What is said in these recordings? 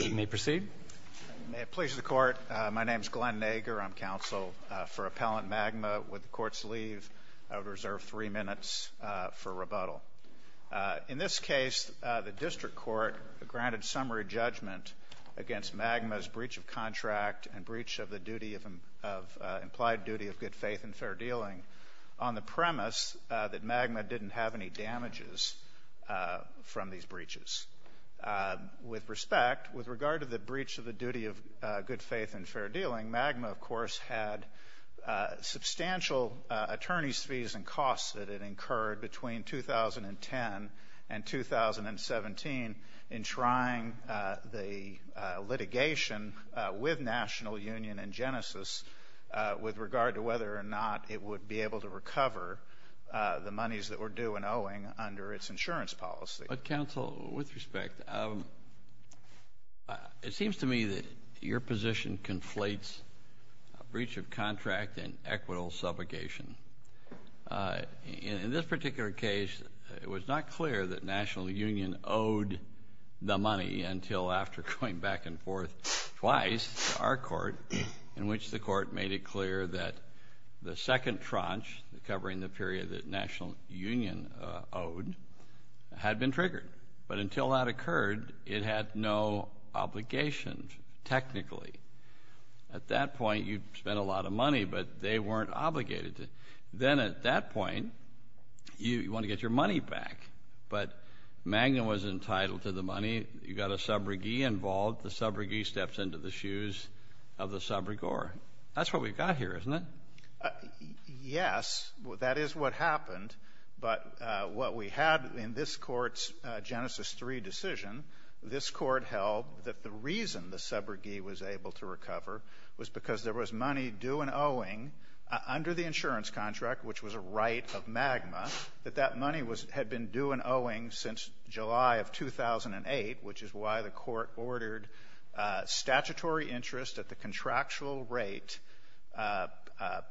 May it please the Court, my name is Glenn Nager. I'm counsel for Appellant Magma. With the Court's leave, I would reserve three minutes for rebuttal. In this case, the District Court granted summary judgment against Magma's breach of contract and breach of the duty of, implied duty of good faith and fair dealing on the premise that Magma didn't have any damages from these breaches. With respect, with regard to the breach of the duty of good faith and fair dealing, Magma, of course, had substantial attorney's fees and costs that it incurred between 2010 and 2017 in trying the litigation with National Union and Genesis with regard to whether or not it would be able to recover the monies that were due and owing under its insurance policy. But, counsel, with respect, it seems to me that your position conflates a breach of contract and equitable subrogation. In this particular case, it was not clear that National Union owed the money until after going back and forth twice to our court in which the court made it clear that the second tranche covering the period that National Union owed had been triggered. But until that occurred, it had no obligations technically. At that point, you'd spent a lot of money, but they weren't obligated to. Then at that point, you want to get your money back, but Magma was entitled to the money. You got a subrogee involved. The subrogee steps into the shoes of the subrogore. That's what we've got here, isn't it? Yes, that is what happened. But what we had in this court's Genesis III decision, this court held that the reason the subrogee was able to recover was because there was money due and owing under the insurance contract, which was a right of Magma, that that money had been due and owing since July of 2008, which is why the court ordered statutory interest at the contractual rate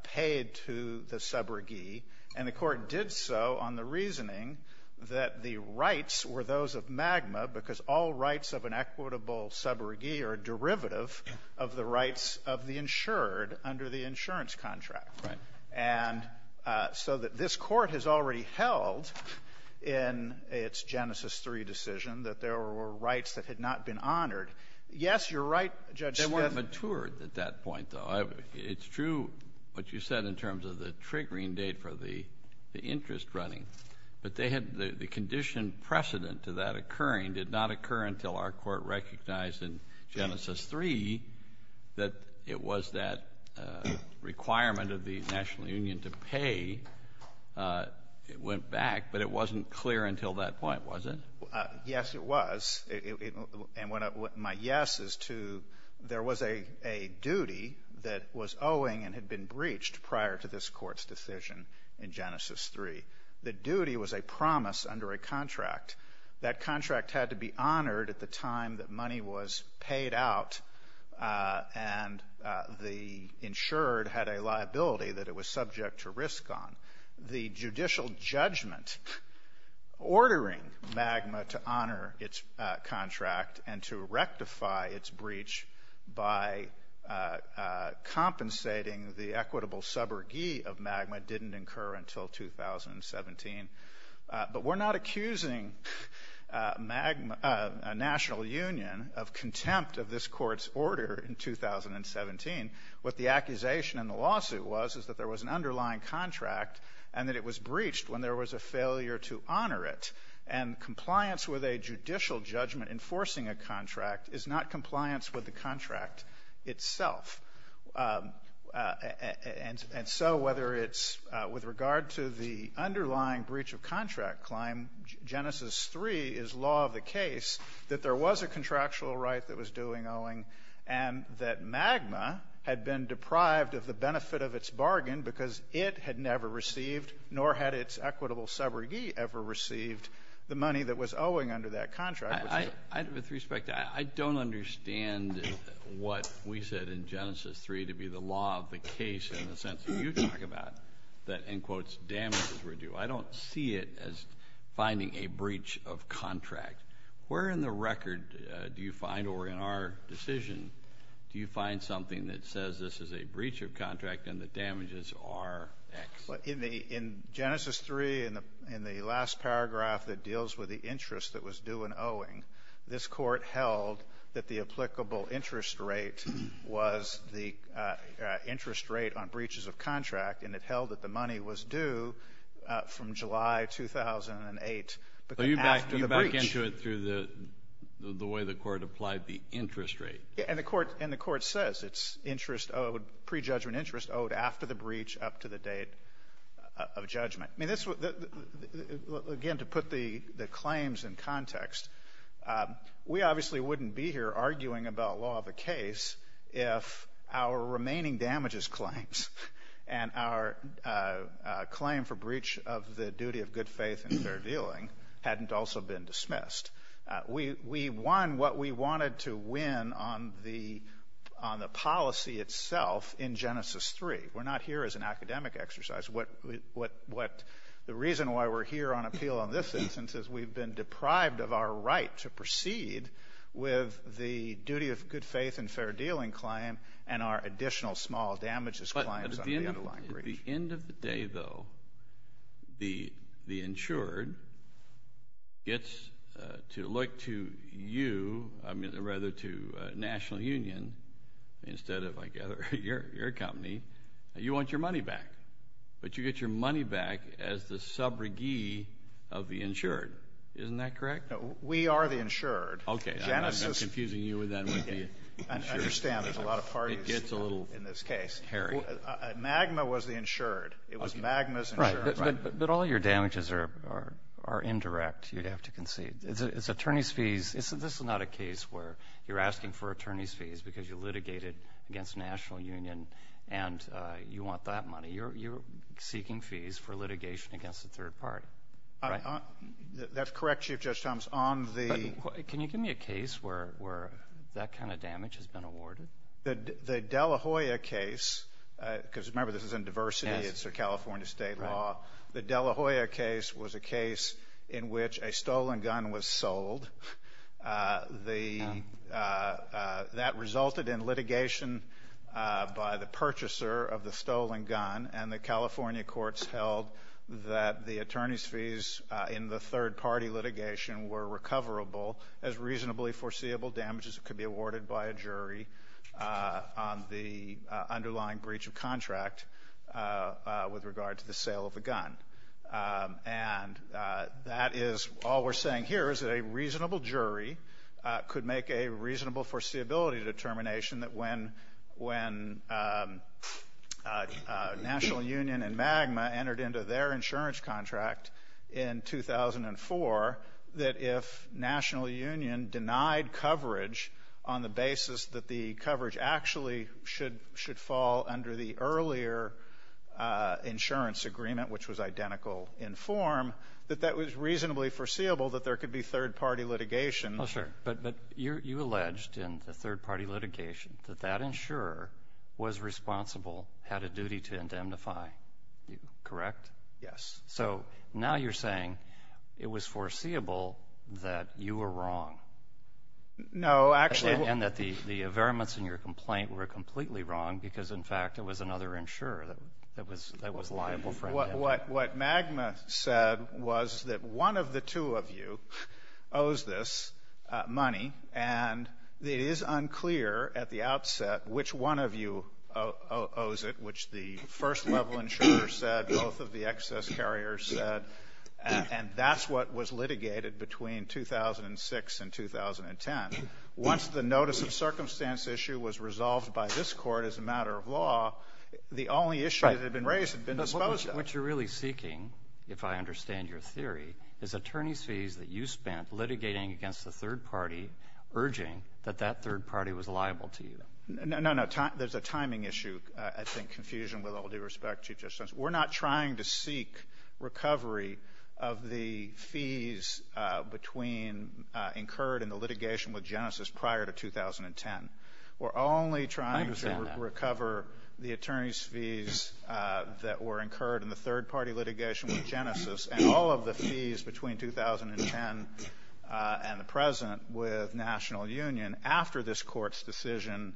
paid to the subrogee. And the court did so on the reasoning that the rights were those of Magma because all rights of an equitable subrogee are a derivative of the rights of the insured under the insurance contract. Right. And so that this court has already held in its Genesis III decision that there were rights that had not been honored. Yes, you're right, Judge Smith. They weren't matured at that point, though. It's true what you said in terms of the triggering date for the interest running, but they had the condition precedent to that occurring did not occur until our court recognized in Genesis III that it was that requirement of the national union to pay. It went back, but it wasn't clear until that point, was it? Yes, it was. And my yes is to there was a duty that was owing and had been breached prior to this Court's decision in Genesis III. The duty was a promise under a contract. That contract had to be honored at the time that money was paid out and the insured had a liability that it was subject to risk on. The judicial judgment ordering MAGMA to honor its contract and to rectify its breach by compensating the equitable suborgy of MAGMA didn't occur until 2017. But we're not accusing MAGMA, a national union, of contempt of this Court's order in 2017. What the accusation in the lawsuit was is that there was an underlying contract and that it was breached when there was a failure to honor it. And compliance with a judicial judgment enforcing a contract is not compliance with the contract itself. And so whether it's with regard to the underlying breach of contract claim, Genesis III is law of the case that there was a contractual right that was MAGMA had been deprived of the benefit of its bargain because it had never received, nor had its equitable suborgy ever received, the money that was owing under that contract. With respect, I don't understand what we said in Genesis III to be the law of the case in the sense that you talk about, that, in quotes, damages were due. I don't see it as finding a breach of contract. Where in the record do you find, or in our decision, do you find something that says this is a breach of contract and the damages are X? Well, in the — in Genesis III, in the last paragraph that deals with the interest that was due in owing, this Court held that the applicable interest rate was the interest rate on breaches of contract, and it held that the money was due from July 2008, but then after the breach — And the Court says its interest owed, pre-judgment interest owed after the breach up to the date of judgment. I mean, this — again, to put the claims in context, we obviously wouldn't be here arguing about law of the case if our remaining damages claims and our claim for breach of the duty of good faith and fair dealing hadn't also been dismissed. We won what we wanted to win on the policy itself in Genesis III. We're not here as an academic exercise. What — the reason why we're here on appeal on this instance is we've been deprived of our right to proceed with the duty of good faith and fair dealing claim and our additional small damages claims on the underlying breach. At the end of the day, though, the insured gets to look to you — I mean, rather, to National Union, instead of, I gather, your company. You want your money back, but you get your money back as the sub-regee of the insured. Isn't that correct? No, we are the insured. Okay. Genesis — I'm confusing you with that. I understand there's a lot of parties in this case. It gets a little hairy. MAGMA was the insured. It was MAGMA's insured. Right. But all your damages are indirect, you'd have to concede. It's attorney's fees. This is not a case where you're asking for attorney's fees because you litigated against National Union, and you want that money. You're seeking fees for litigation against a third party, right? That's correct, Chief Judge Thomas. On the — But can you give me a case where that kind of damage has been awarded? The Dela Hoya case — because remember, this is in diversity. Yes. It's a California state law. Right. The Dela Hoya case was a case in which a stolen gun was sold. That resulted in litigation by the purchaser of the stolen gun, and the California courts held that the attorney's fees in the third party litigation were coverable as reasonably foreseeable damages that could be awarded by a jury on the underlying breach of contract with regard to the sale of the gun. And that is — all we're saying here is that a reasonable jury could make a reasonable foreseeability determination that when National Union and MAGMA entered into their insurance contract in 2004, that if National Union denied coverage on the basis that the coverage actually should — should fall under the earlier insurance agreement, which was identical in form, that that was reasonably foreseeable that there could be third party litigation. Oh, sure. But you alleged in the third party litigation that that insurer was responsible, had a duty to indemnify you. Correct? Yes. So now you're saying it was foreseeable that you were wrong. No, actually — And that the veriments in your complaint were completely wrong because, in fact, it was another insurer that was liable for indemnity. What MAGMA said was that one of the two of you owes this money, and it is unclear at the outset which one of you owes it, which the first-level insurer said, both of the excess carriers said. And that's what was litigated between 2006 and 2010. Once the notice-of-circumstance issue was resolved by this Court as a matter of law, the only issue that had been raised had been disposed of. But what you're really seeking, if I understand your theory, is attorneys' fees that you spent litigating against the third party, urging that that third party was liable to you. No, no. There's a timing issue, I think, confusion with all due respect, Chief Justice. We're not trying to seek recovery of the fees between — incurred in the litigation with Genesis prior to 2010. I understand that. We're only trying to recover the attorneys' fees that were incurred in the third party litigation with Genesis and all of the fees between 2010 and the present with National Union after this Court's decision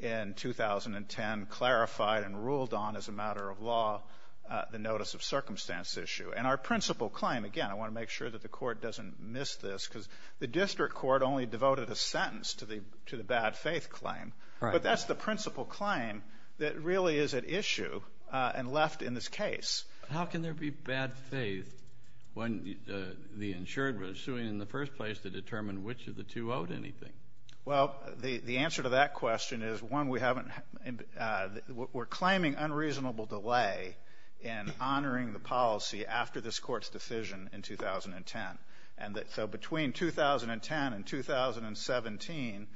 in 2010 clarified and ruled on as a matter of law the notice-of-circumstance issue. And our principal claim — again, I want to make sure that the Court doesn't miss this, because the district court only devoted a sentence to the — to the bad-faith claim. Right. But that's the principal claim that really is at issue and left in this case. How can there be bad faith when the insured was suing in the first place to determine which of the two owed anything? Well, the answer to that question is, one, we haven't — we're claiming unreasonable delay in honoring the policy after this Court's decision in 2010. And so between 2010 and 2017,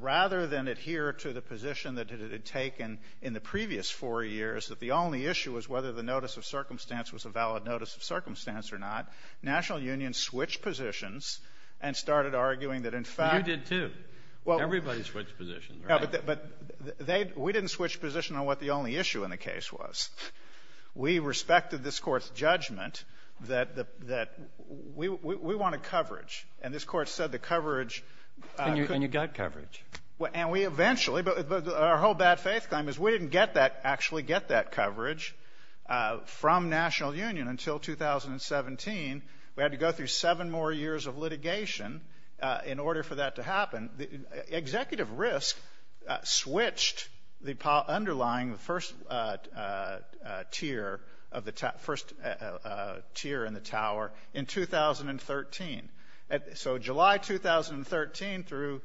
rather than adhere to the position that it had taken in the previous four years that the only issue was whether the notice-of-circumstance was a valid notice-of-circumstance or not, National Union switched positions and started arguing that, in fact — You did, too. Well — Everybody switched positions, right? But they — we didn't switch position on what the only issue in the case was. We respected this Court's judgment that the — that we — we wanted coverage. And this Court said the coverage — And you got coverage. And we eventually — but our whole bad-faith claim is we didn't get that — actually get that coverage from National Union until 2017. We had to go through seven more years of litigation in order for that to happen. Executive risk switched the underlying first tier of the — first tier in the Tower in 2013. So July 2013 through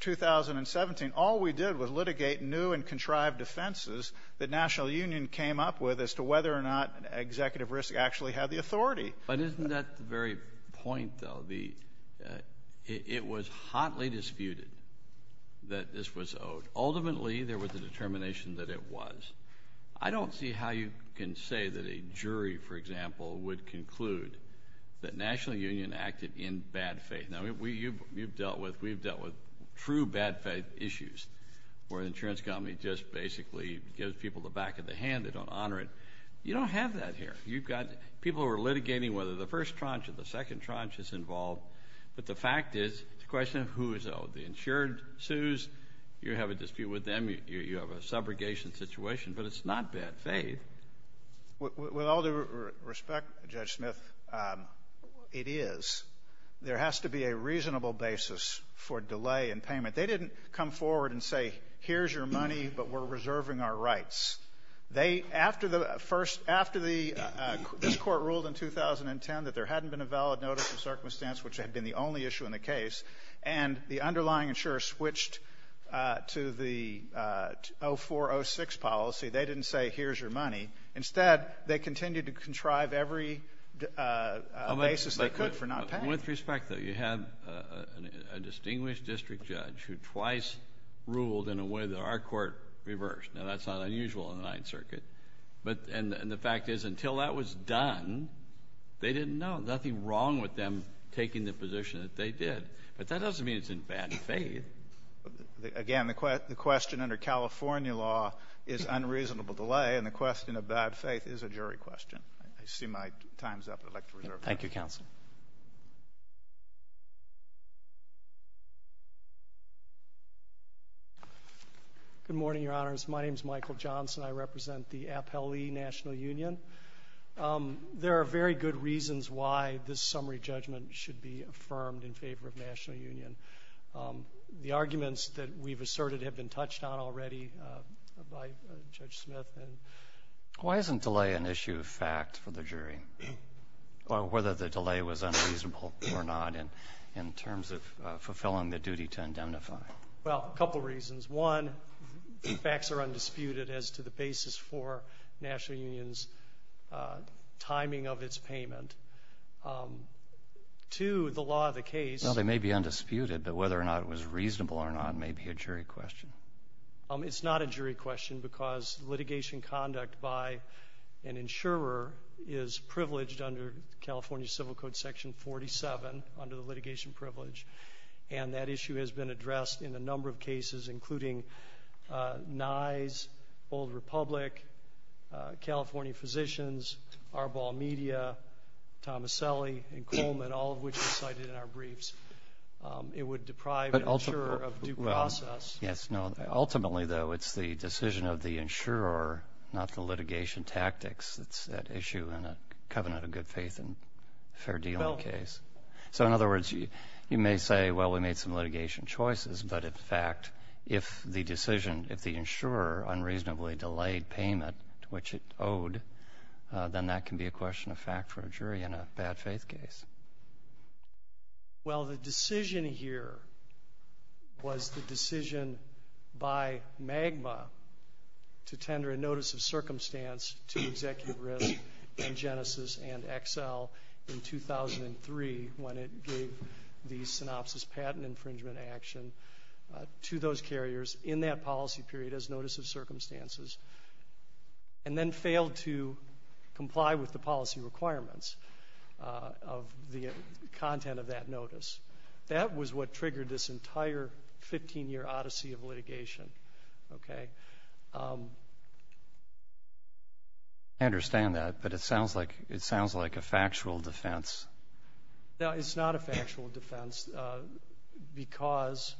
2017, all we did was litigate new and contrived defenses that National Union came up with as to whether or not executive risk actually had the authority. But isn't that the very point, though? The — it was hotly disputed that this was owed. Ultimately, there was a determination that it was. I don't see how you can say that a jury, for example, would conclude that National Union acted in bad faith. Now, we — you've dealt with — we've dealt with true bad-faith issues where the insurance company just basically gives people the back of the hand. They don't honor it. You don't have that here. You've got people who are litigating whether the first tranche or the second tranche is involved. But the fact is, it's a question of who is owed. The insured sues. You have a dispute with them. You have a subrogation situation. But it's not bad faith. With all due respect, Judge Smith, it is. There has to be a reasonable basis for delay in payment. They didn't come forward and say, here's your money, but we're reserving our rights. They — after the first — after the — this Court ruled in 2010 that there hadn't been a valid notice of circumstance, which had been the only issue in the case, and the underlying insurer switched to the 0406 policy, they didn't say, here's your money. Instead, they continued to contrive every basis they could for not paying. With respect, though, you have a distinguished district judge who twice ruled in a way that our Court reversed. Now, that's not unusual in the Ninth Circuit. But — and the fact is, until that was done, they didn't know. Nothing wrong with them taking the position that they did. But that doesn't mean it's in bad faith. Again, the question under California law is unreasonable delay, and the question of bad faith is a jury question. I see my time's up. I'd like to reserve it. Thank you, Counsel. Johnson. Good morning, Your Honors. My name's Michael Johnson. I represent the Appellee National Union. There are very good reasons why this summary judgment should be affirmed in favor of national union. The arguments that we've asserted have been touched on already by Judge Smith. Why isn't delay an issue of fact for the jury, or whether the delay was unreasonable or not in terms of fulfilling the duty to indemnify? Well, a couple reasons. One, the facts are undisputed as to the basis for national union's timing of its payment. Two, the law of the case — Well, they may be undisputed, but whether or not it was reasonable or not may be a jury question. It's not a jury question because litigation conduct by an insurer is privileged under California Civil Code Section 47, under the litigation privilege. And that issue has been addressed in a number of cases, including Nye's, Old Republic, California Physicians, Arbol Media, Tomaselli, and Coleman, all of which are cited in our briefs. It would deprive an insurer of due process. Yes. No. Ultimately, though, it's the decision of the insurer, not the litigation tactics that's at issue in a covenant of good faith and fair dealing case. So, in other words, you may say, well, we made some litigation choices, but, in fact, if the decision — if the insurer unreasonably delayed payment, which it owed, then that can be a question of fact for a jury in a bad-faith case. Well, the decision here was the decision by MAGMA to tender a notice of circumstance to Executive Risk and Genesis and Excel in 2003, when it gave the synopsis patent infringement action to those carriers in that policy period as notice of circumstances, and then failed to comply with the policy requirements of the content of that notice. That was what triggered this entire 15-year odyssey of litigation. Okay? I understand that, but it sounds like a factual defense. No, it's not a factual defense because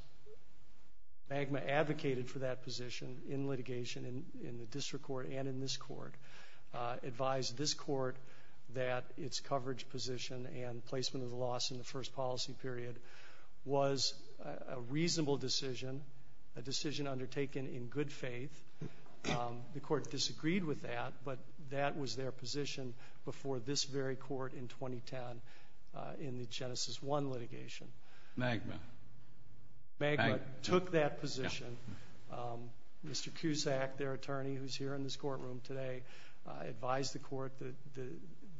MAGMA advocated for that position in litigation in the district court and in this court, advised this court that its coverage position and placement of the loss in the first policy period was a reasonable decision, a decision undertaken in good faith. The court disagreed with that, but that was their position before this very court in 2010 in the Genesis I litigation. MAGMA. MAGMA took that position. Mr. Cusack, their attorney, who's here in this courtroom today, advised the court that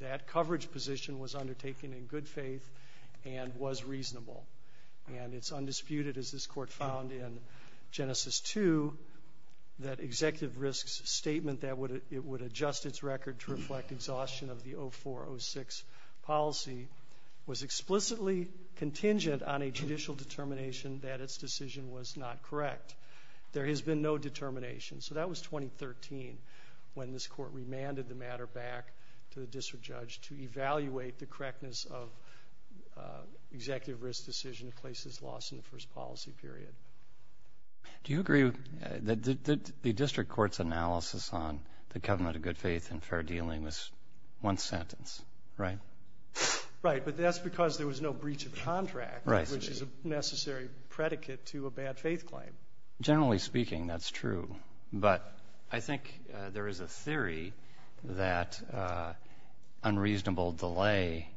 that coverage position was undertaken in good faith and was reasonable. And it's undisputed, as this court found in Genesis II, that Executive Risk's statement that it would adjust its record to reflect exhaustion of the 0406 policy was explicitly contingent on a judicial determination that its decision was not correct. There has been no determination. So that was 2013 when this court remanded the matter back to the district judge to evaluate the correctness of Executive Risk's decision to place this loss in the first policy period. Do you agree that the district court's analysis on the government of good faith and fair dealing was one sentence, right? Right. But that's because there was no breach of contract, which is a necessary predicate to a bad faith claim. Generally speaking, that's true. But I think there is a theory that unreasonable delay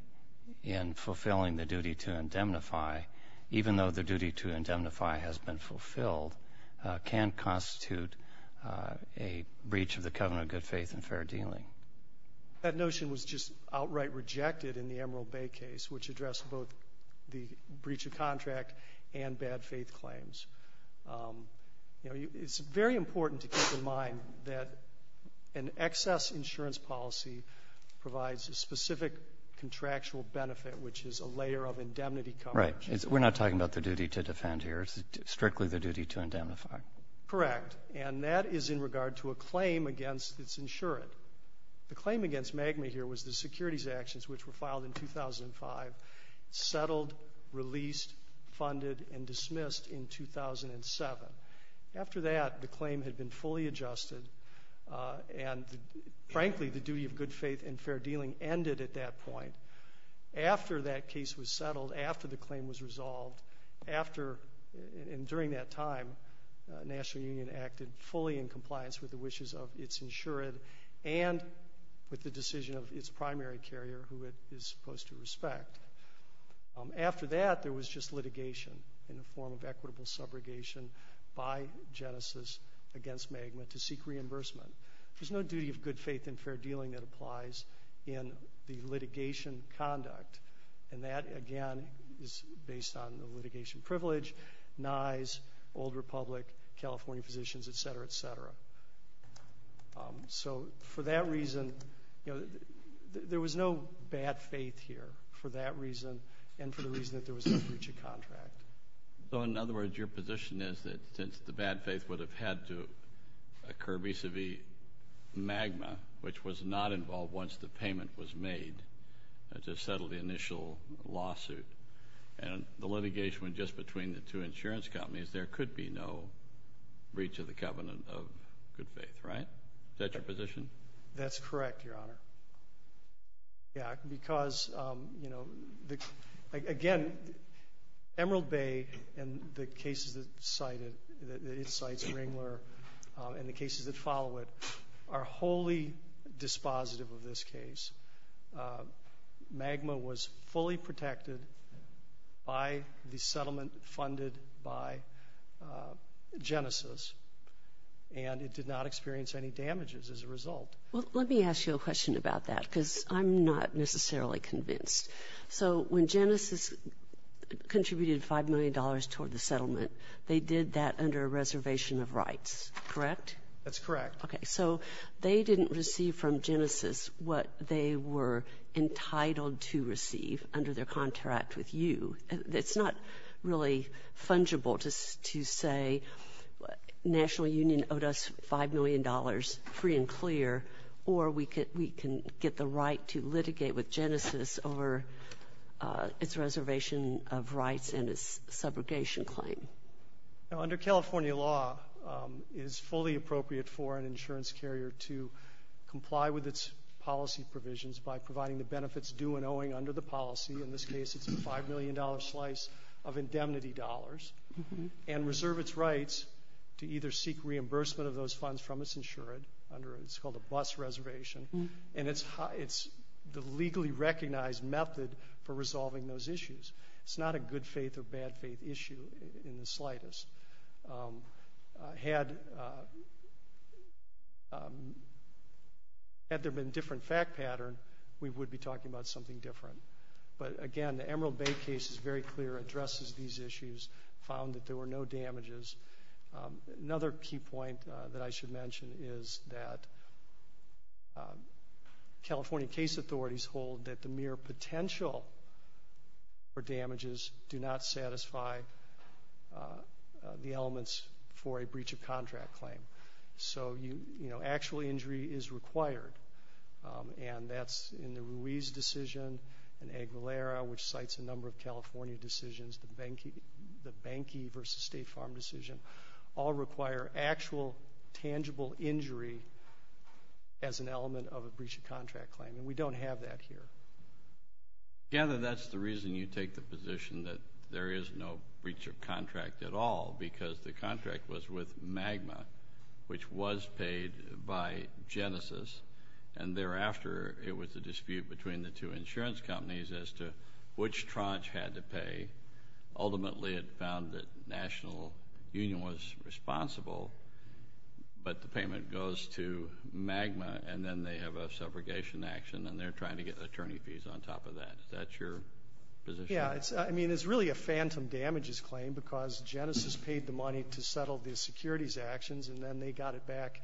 in fulfilling the duty to indemnify, even though the duty to indemnify has been fulfilled, can constitute a breach of the covenant of good faith and fair dealing. That notion was just outright rejected in the Emerald Bay case, which addressed both the breach of contract and bad faith claims. It's very important to keep in mind that an excess insurance policy provides a specific contractual benefit, which is a layer of indemnity coverage. Right. We're not talking about the duty to defend here. It's strictly the duty to indemnify. Correct. And that is in regard to a claim against its insurant. The claim against MAGMA here was the securities actions, which were filed in 2005, settled, released, funded, and dismissed in 2007. After that, the claim had been fully adjusted. And frankly, the duty of good faith and fair dealing ended at that point. After that case was settled, after the claim was resolved, after and during that time, National Union acted fully in compliance with the wishes of its insurant and with the decision of its primary carrier, who it is supposed to respect. After that, there was just litigation in the form of equitable subrogation by Genesis against MAGMA to seek reimbursement. There's no duty of good faith and fair dealing that applies in the litigation conduct. And that, again, is based on the litigation privilege, NISE, Old Republic, California Physicians, et cetera, et cetera. So for that reason, you know, there was no bad faith here for that reason and for the reason that there was no breach of contract. So in other words, your position is that since the bad faith would have had to occur vis-à-vis MAGMA, which was not involved once the payment was made to settle the initial lawsuit, and the litigation went just between the two insurance companies, there could be no breach of the covenant of good faith, right? Is that your position? That's correct, Your Honor. Because, you know, again, Emerald Bay and the cases that it cites, Ringler, and the cases that follow it are wholly dispositive of this case. MAGMA was fully protected by the settlement funded by Genesis, and it did not experience any damages as a result. Well, let me ask you a question about that because I'm not necessarily convinced. So when Genesis contributed $5 million toward the settlement, they did that under a reservation of rights, correct? That's correct. Okay. So they didn't receive from Genesis what they were entitled to receive under their contract with you. It's not really fungible to say National Union owed us $5 million, free and clear, or we can get the right to litigate with Genesis over its reservation of rights and its subrogation claim. Now, under California law, it is fully appropriate for an insurance carrier to comply with its policy provisions by providing the benefits due and owing under the policy. In this case, it's a $5 million slice of indemnity dollars, and reserve its rights to either seek reimbursement of those funds from its insured under what's called a bus reservation, and it's the legally recognized method for resolving those issues. It's not a good faith or bad faith issue in the slightest. Had there been a different fact pattern, we would be talking about something different. But again, the Emerald Bay case is very clear, addresses these issues, found that there were no damages. Another key point that I should mention is that California case authorities hold that the mere potential for damages do not satisfy the elements for a breach of contract claim. So, you know, actual injury is required, and that's in the Ruiz decision and Aguilera, which cites a number of California decisions, the Bankey versus State Farm decision, all require actual tangible injury as an element of a breach of contract claim, and we don't have that here. Gather that's the reason you take the position that there is no breach of contract at all, because the contract was with Magma, which was paid by Genesis, and thereafter it was a dispute between the two insurance companies as to which the tranche had to pay. Ultimately it found that National Union was responsible, but the payment goes to Magma, and then they have a subrogation action, and they're trying to get attorney fees on top of that. Is that your position? Yeah. I mean, it's really a phantom damages claim, because Genesis paid the money to settle the securities actions, and then they got it back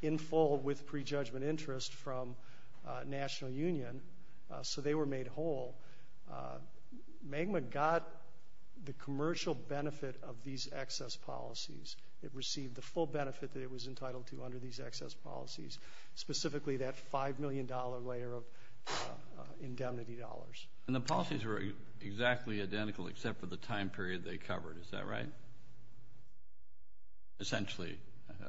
in full with prejudgment interest from National Union, so they were made whole. Magma got the commercial benefit of these excess policies. It received the full benefit that it was entitled to under these excess policies, specifically that $5 million layer of indemnity dollars. And the policies were exactly identical except for the time period they covered. Is that right? Essentially.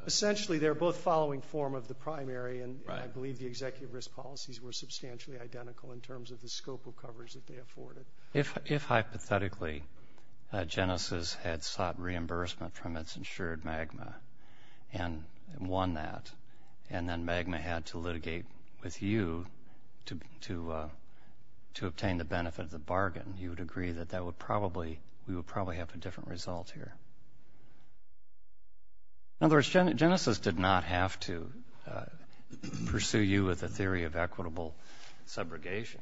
Essentially they're both following form of the primary, and I believe the executive risk policies were substantially identical in terms of the scope of coverage that they afforded. If hypothetically Genesis had sought reimbursement from its insured Magma and won that, and then Magma had to litigate with you to obtain the benefit of the bargain, you would agree that we would probably have a different result here. In other words, Genesis did not have to pursue you with a theory of equitable subrogation.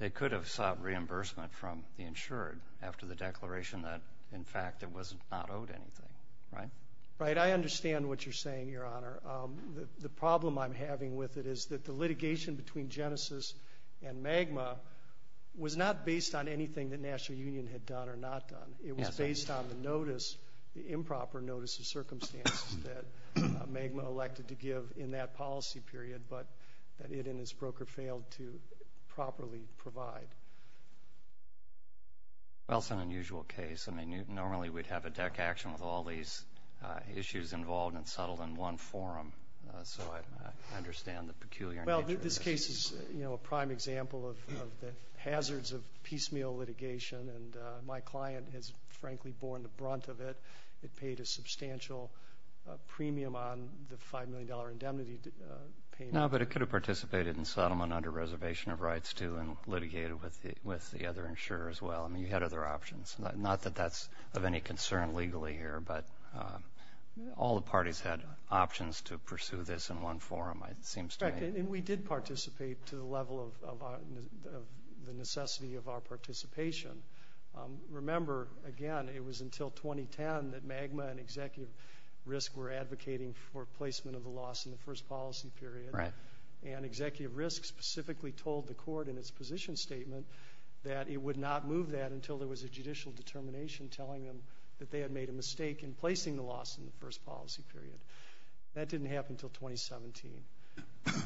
They could have sought reimbursement from the insured after the declaration that, in fact, it was not owed anything, right? Right. I understand what you're saying, Your Honor. The problem I'm having with it is that the litigation between Genesis and Magma was not based on anything that National Union had done or not done. It was based on the notice, the improper notice of circumstances that Magma elected to give in that policy period, but that it and its broker failed to properly provide. Well, it's an unusual case. I mean, normally we'd have a deck action with all these issues involved and settled in one forum, so I understand the peculiar nature of this. Well, this case is a prime example of the hazards of piecemeal litigation, and my client has, frankly, borne the brunt of it. It paid a substantial premium on the $5 million indemnity payment. No, but it could have participated in settlement under reservation of rights, too, and litigated with the other insurer as well. I mean, you had other options. Not that that's of any concern legally here, but all the parties had options to pursue this in one forum, it seems to me. And we did participate to the level of the necessity of our participation. Remember, again, it was until 2010 that Magma and Executive Risk were advocating for placement of the loss in the first policy period, and Executive Risk specifically told the court in its position statement that it would not move that until there was a judicial determination telling them that they had made a mistake in placing the loss in the first policy period. That didn't happen until 2017,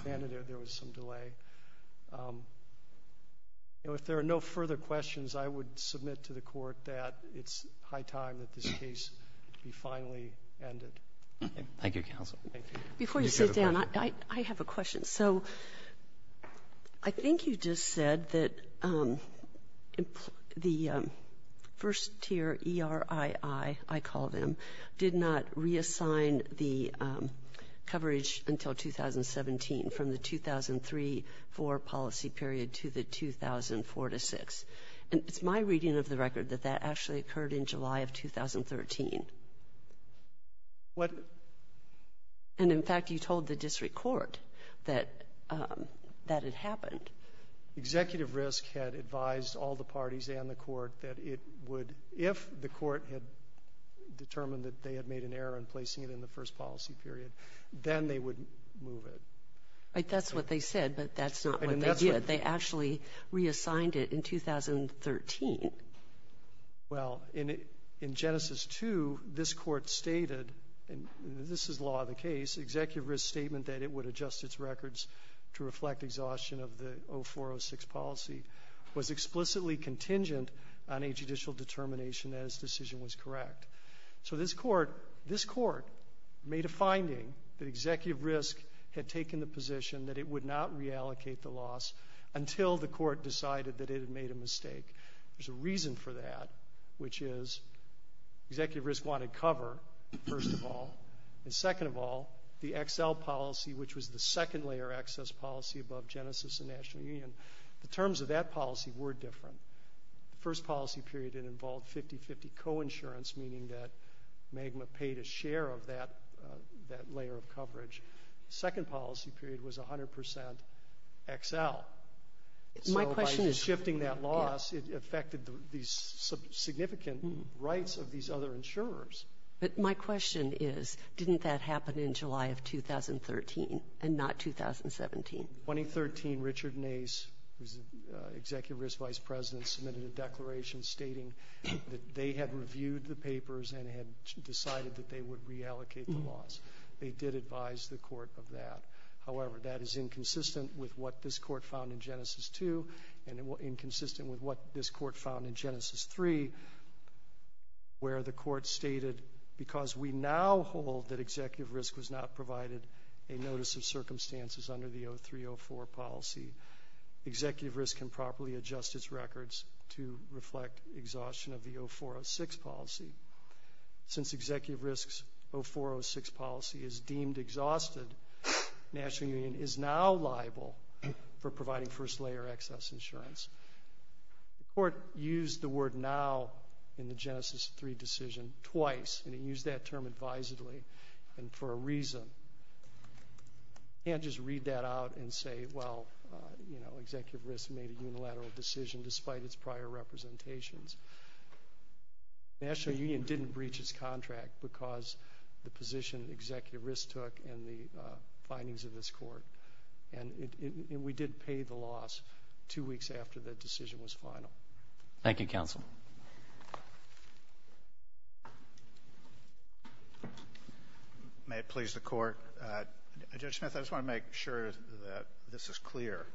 and there was some delay. You know, if there are no further questions, I would submit to the Court that it's high time that this case be finally ended. Thank you, counsel. Thank you. Before you sit down, I have a question. So I think you just said that the first-tier ERII, I call them, did not reassign the coverage until 2017 from the 2003-4 policy period to the 2004-6. And it's my reading of the record that that actually occurred in July of 2013. What? And, in fact, you told the district court that that had happened. Executive Risk had advised all the parties and the court that it would, if the court had determined that they had made an error in placing it in the first policy period, then they would move it. That's what they said, but that's not what they did. They actually reassigned it in 2013. Well, in Genesis 2, this Court stated, and this is law of the case, Executive Risk's statement that it would adjust its records to reflect exhaustion of the 2004-06 policy was explicitly contingent on a judicial determination that its decision was correct. So this Court made a finding that Executive Risk had taken the position that it would not reallocate the loss until the court decided that it had made a mistake. There's a reason for that, which is Executive Risk wanted cover, first of all, and, second of all, the XL policy, which was the second-layer access policy above Genesis and National Union. The terms of that policy were different. The first policy period, it involved 50-50 coinsurance, meaning that MAGMA paid a share of that layer of coverage. The second policy period was 100% XL. So by shifting that loss, it affected these significant rights of these other insurers. But my question is, didn't that happen in July of 2013 and not 2017? In 2013, Richard Nace, who's the Executive Risk vice president, submitted a declaration stating that they had reviewed the papers and had decided that they would reallocate the loss. They did advise the court of that. However, that is inconsistent with what this court found in Genesis 2 and inconsistent with what this court found in Genesis 3, where the court stated, because we now hold that Executive Risk was not provided a notice of circumstances under the 03-04 policy, Executive Risk can properly adjust its records to reflect exhaustion of the 04-06 policy. Since Executive Risk's 04-06 policy is deemed exhausted, National Union is now liable for providing first-layer access insurance. The court used the word now in the Genesis 3 decision twice, and it used that term advisedly and for a reason. You can't just read that out and say, well, you know, Executive Risk made a unilateral decision despite its prior representations. National Union didn't breach its contract because the position Executive Risk took and the findings of this court. And we did pay the loss two weeks after the decision was final. Thank you, counsel. May it please the court. Judge Smith, I just want to make sure that this is clear.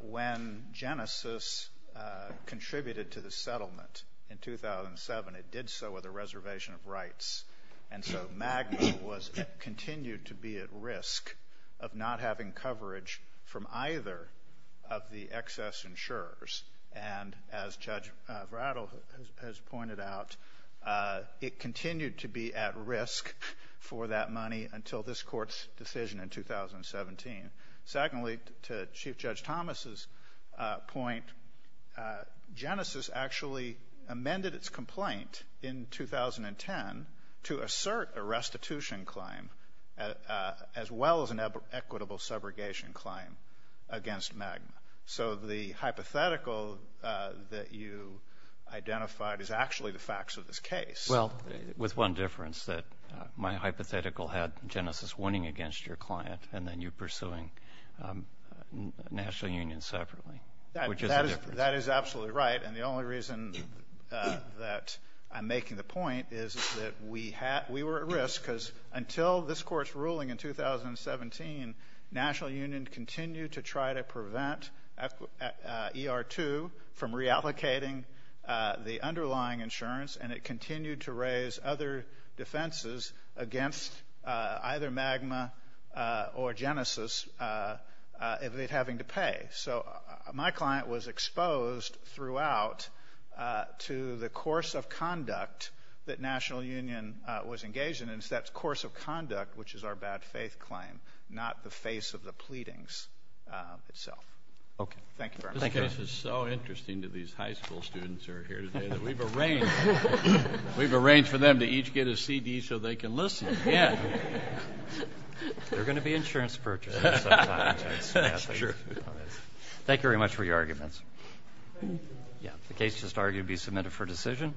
When Genesis contributed to the settlement in 2007, it did so with a reservation of rights, and so MAGMA continued to be at risk of not having coverage from either of the excess insurers, and as Judge Vratil has pointed out, it continued to be at risk for that money until this court's decision in 2017. Secondly, to Chief Judge Thomas's point, Genesis actually amended its complaint in 2010 to assert a restitution claim as well as an equitable subrogation claim against MAGMA. So the hypothetical that you identified is actually the facts of this case. Well, with one difference, that my hypothetical had Genesis winning against your client and then you pursuing National Union separately, which is the difference. That is absolutely right, and the only reason that I'm making the point is that we were at risk because until this court's ruling in 2017, National Union continued to try to prevent ER2 from reallocating the underlying insurance, and it continued to raise other defenses against either MAGMA or Genesis having to pay. So my client was exposed throughout to the course of conduct that National Union was engaged in, and it's that course of conduct which is our bad faith claim, not the face of the pleadings itself. Okay. Thank you very much. This case is so interesting to these high school students who are here today that we've arranged... we've arranged for them to each get a CD so they can listen. Yeah. There are going to be insurance purchases sometime. That's true. Thank you very much for your arguments. Yeah. The case just argued to be submitted for decision.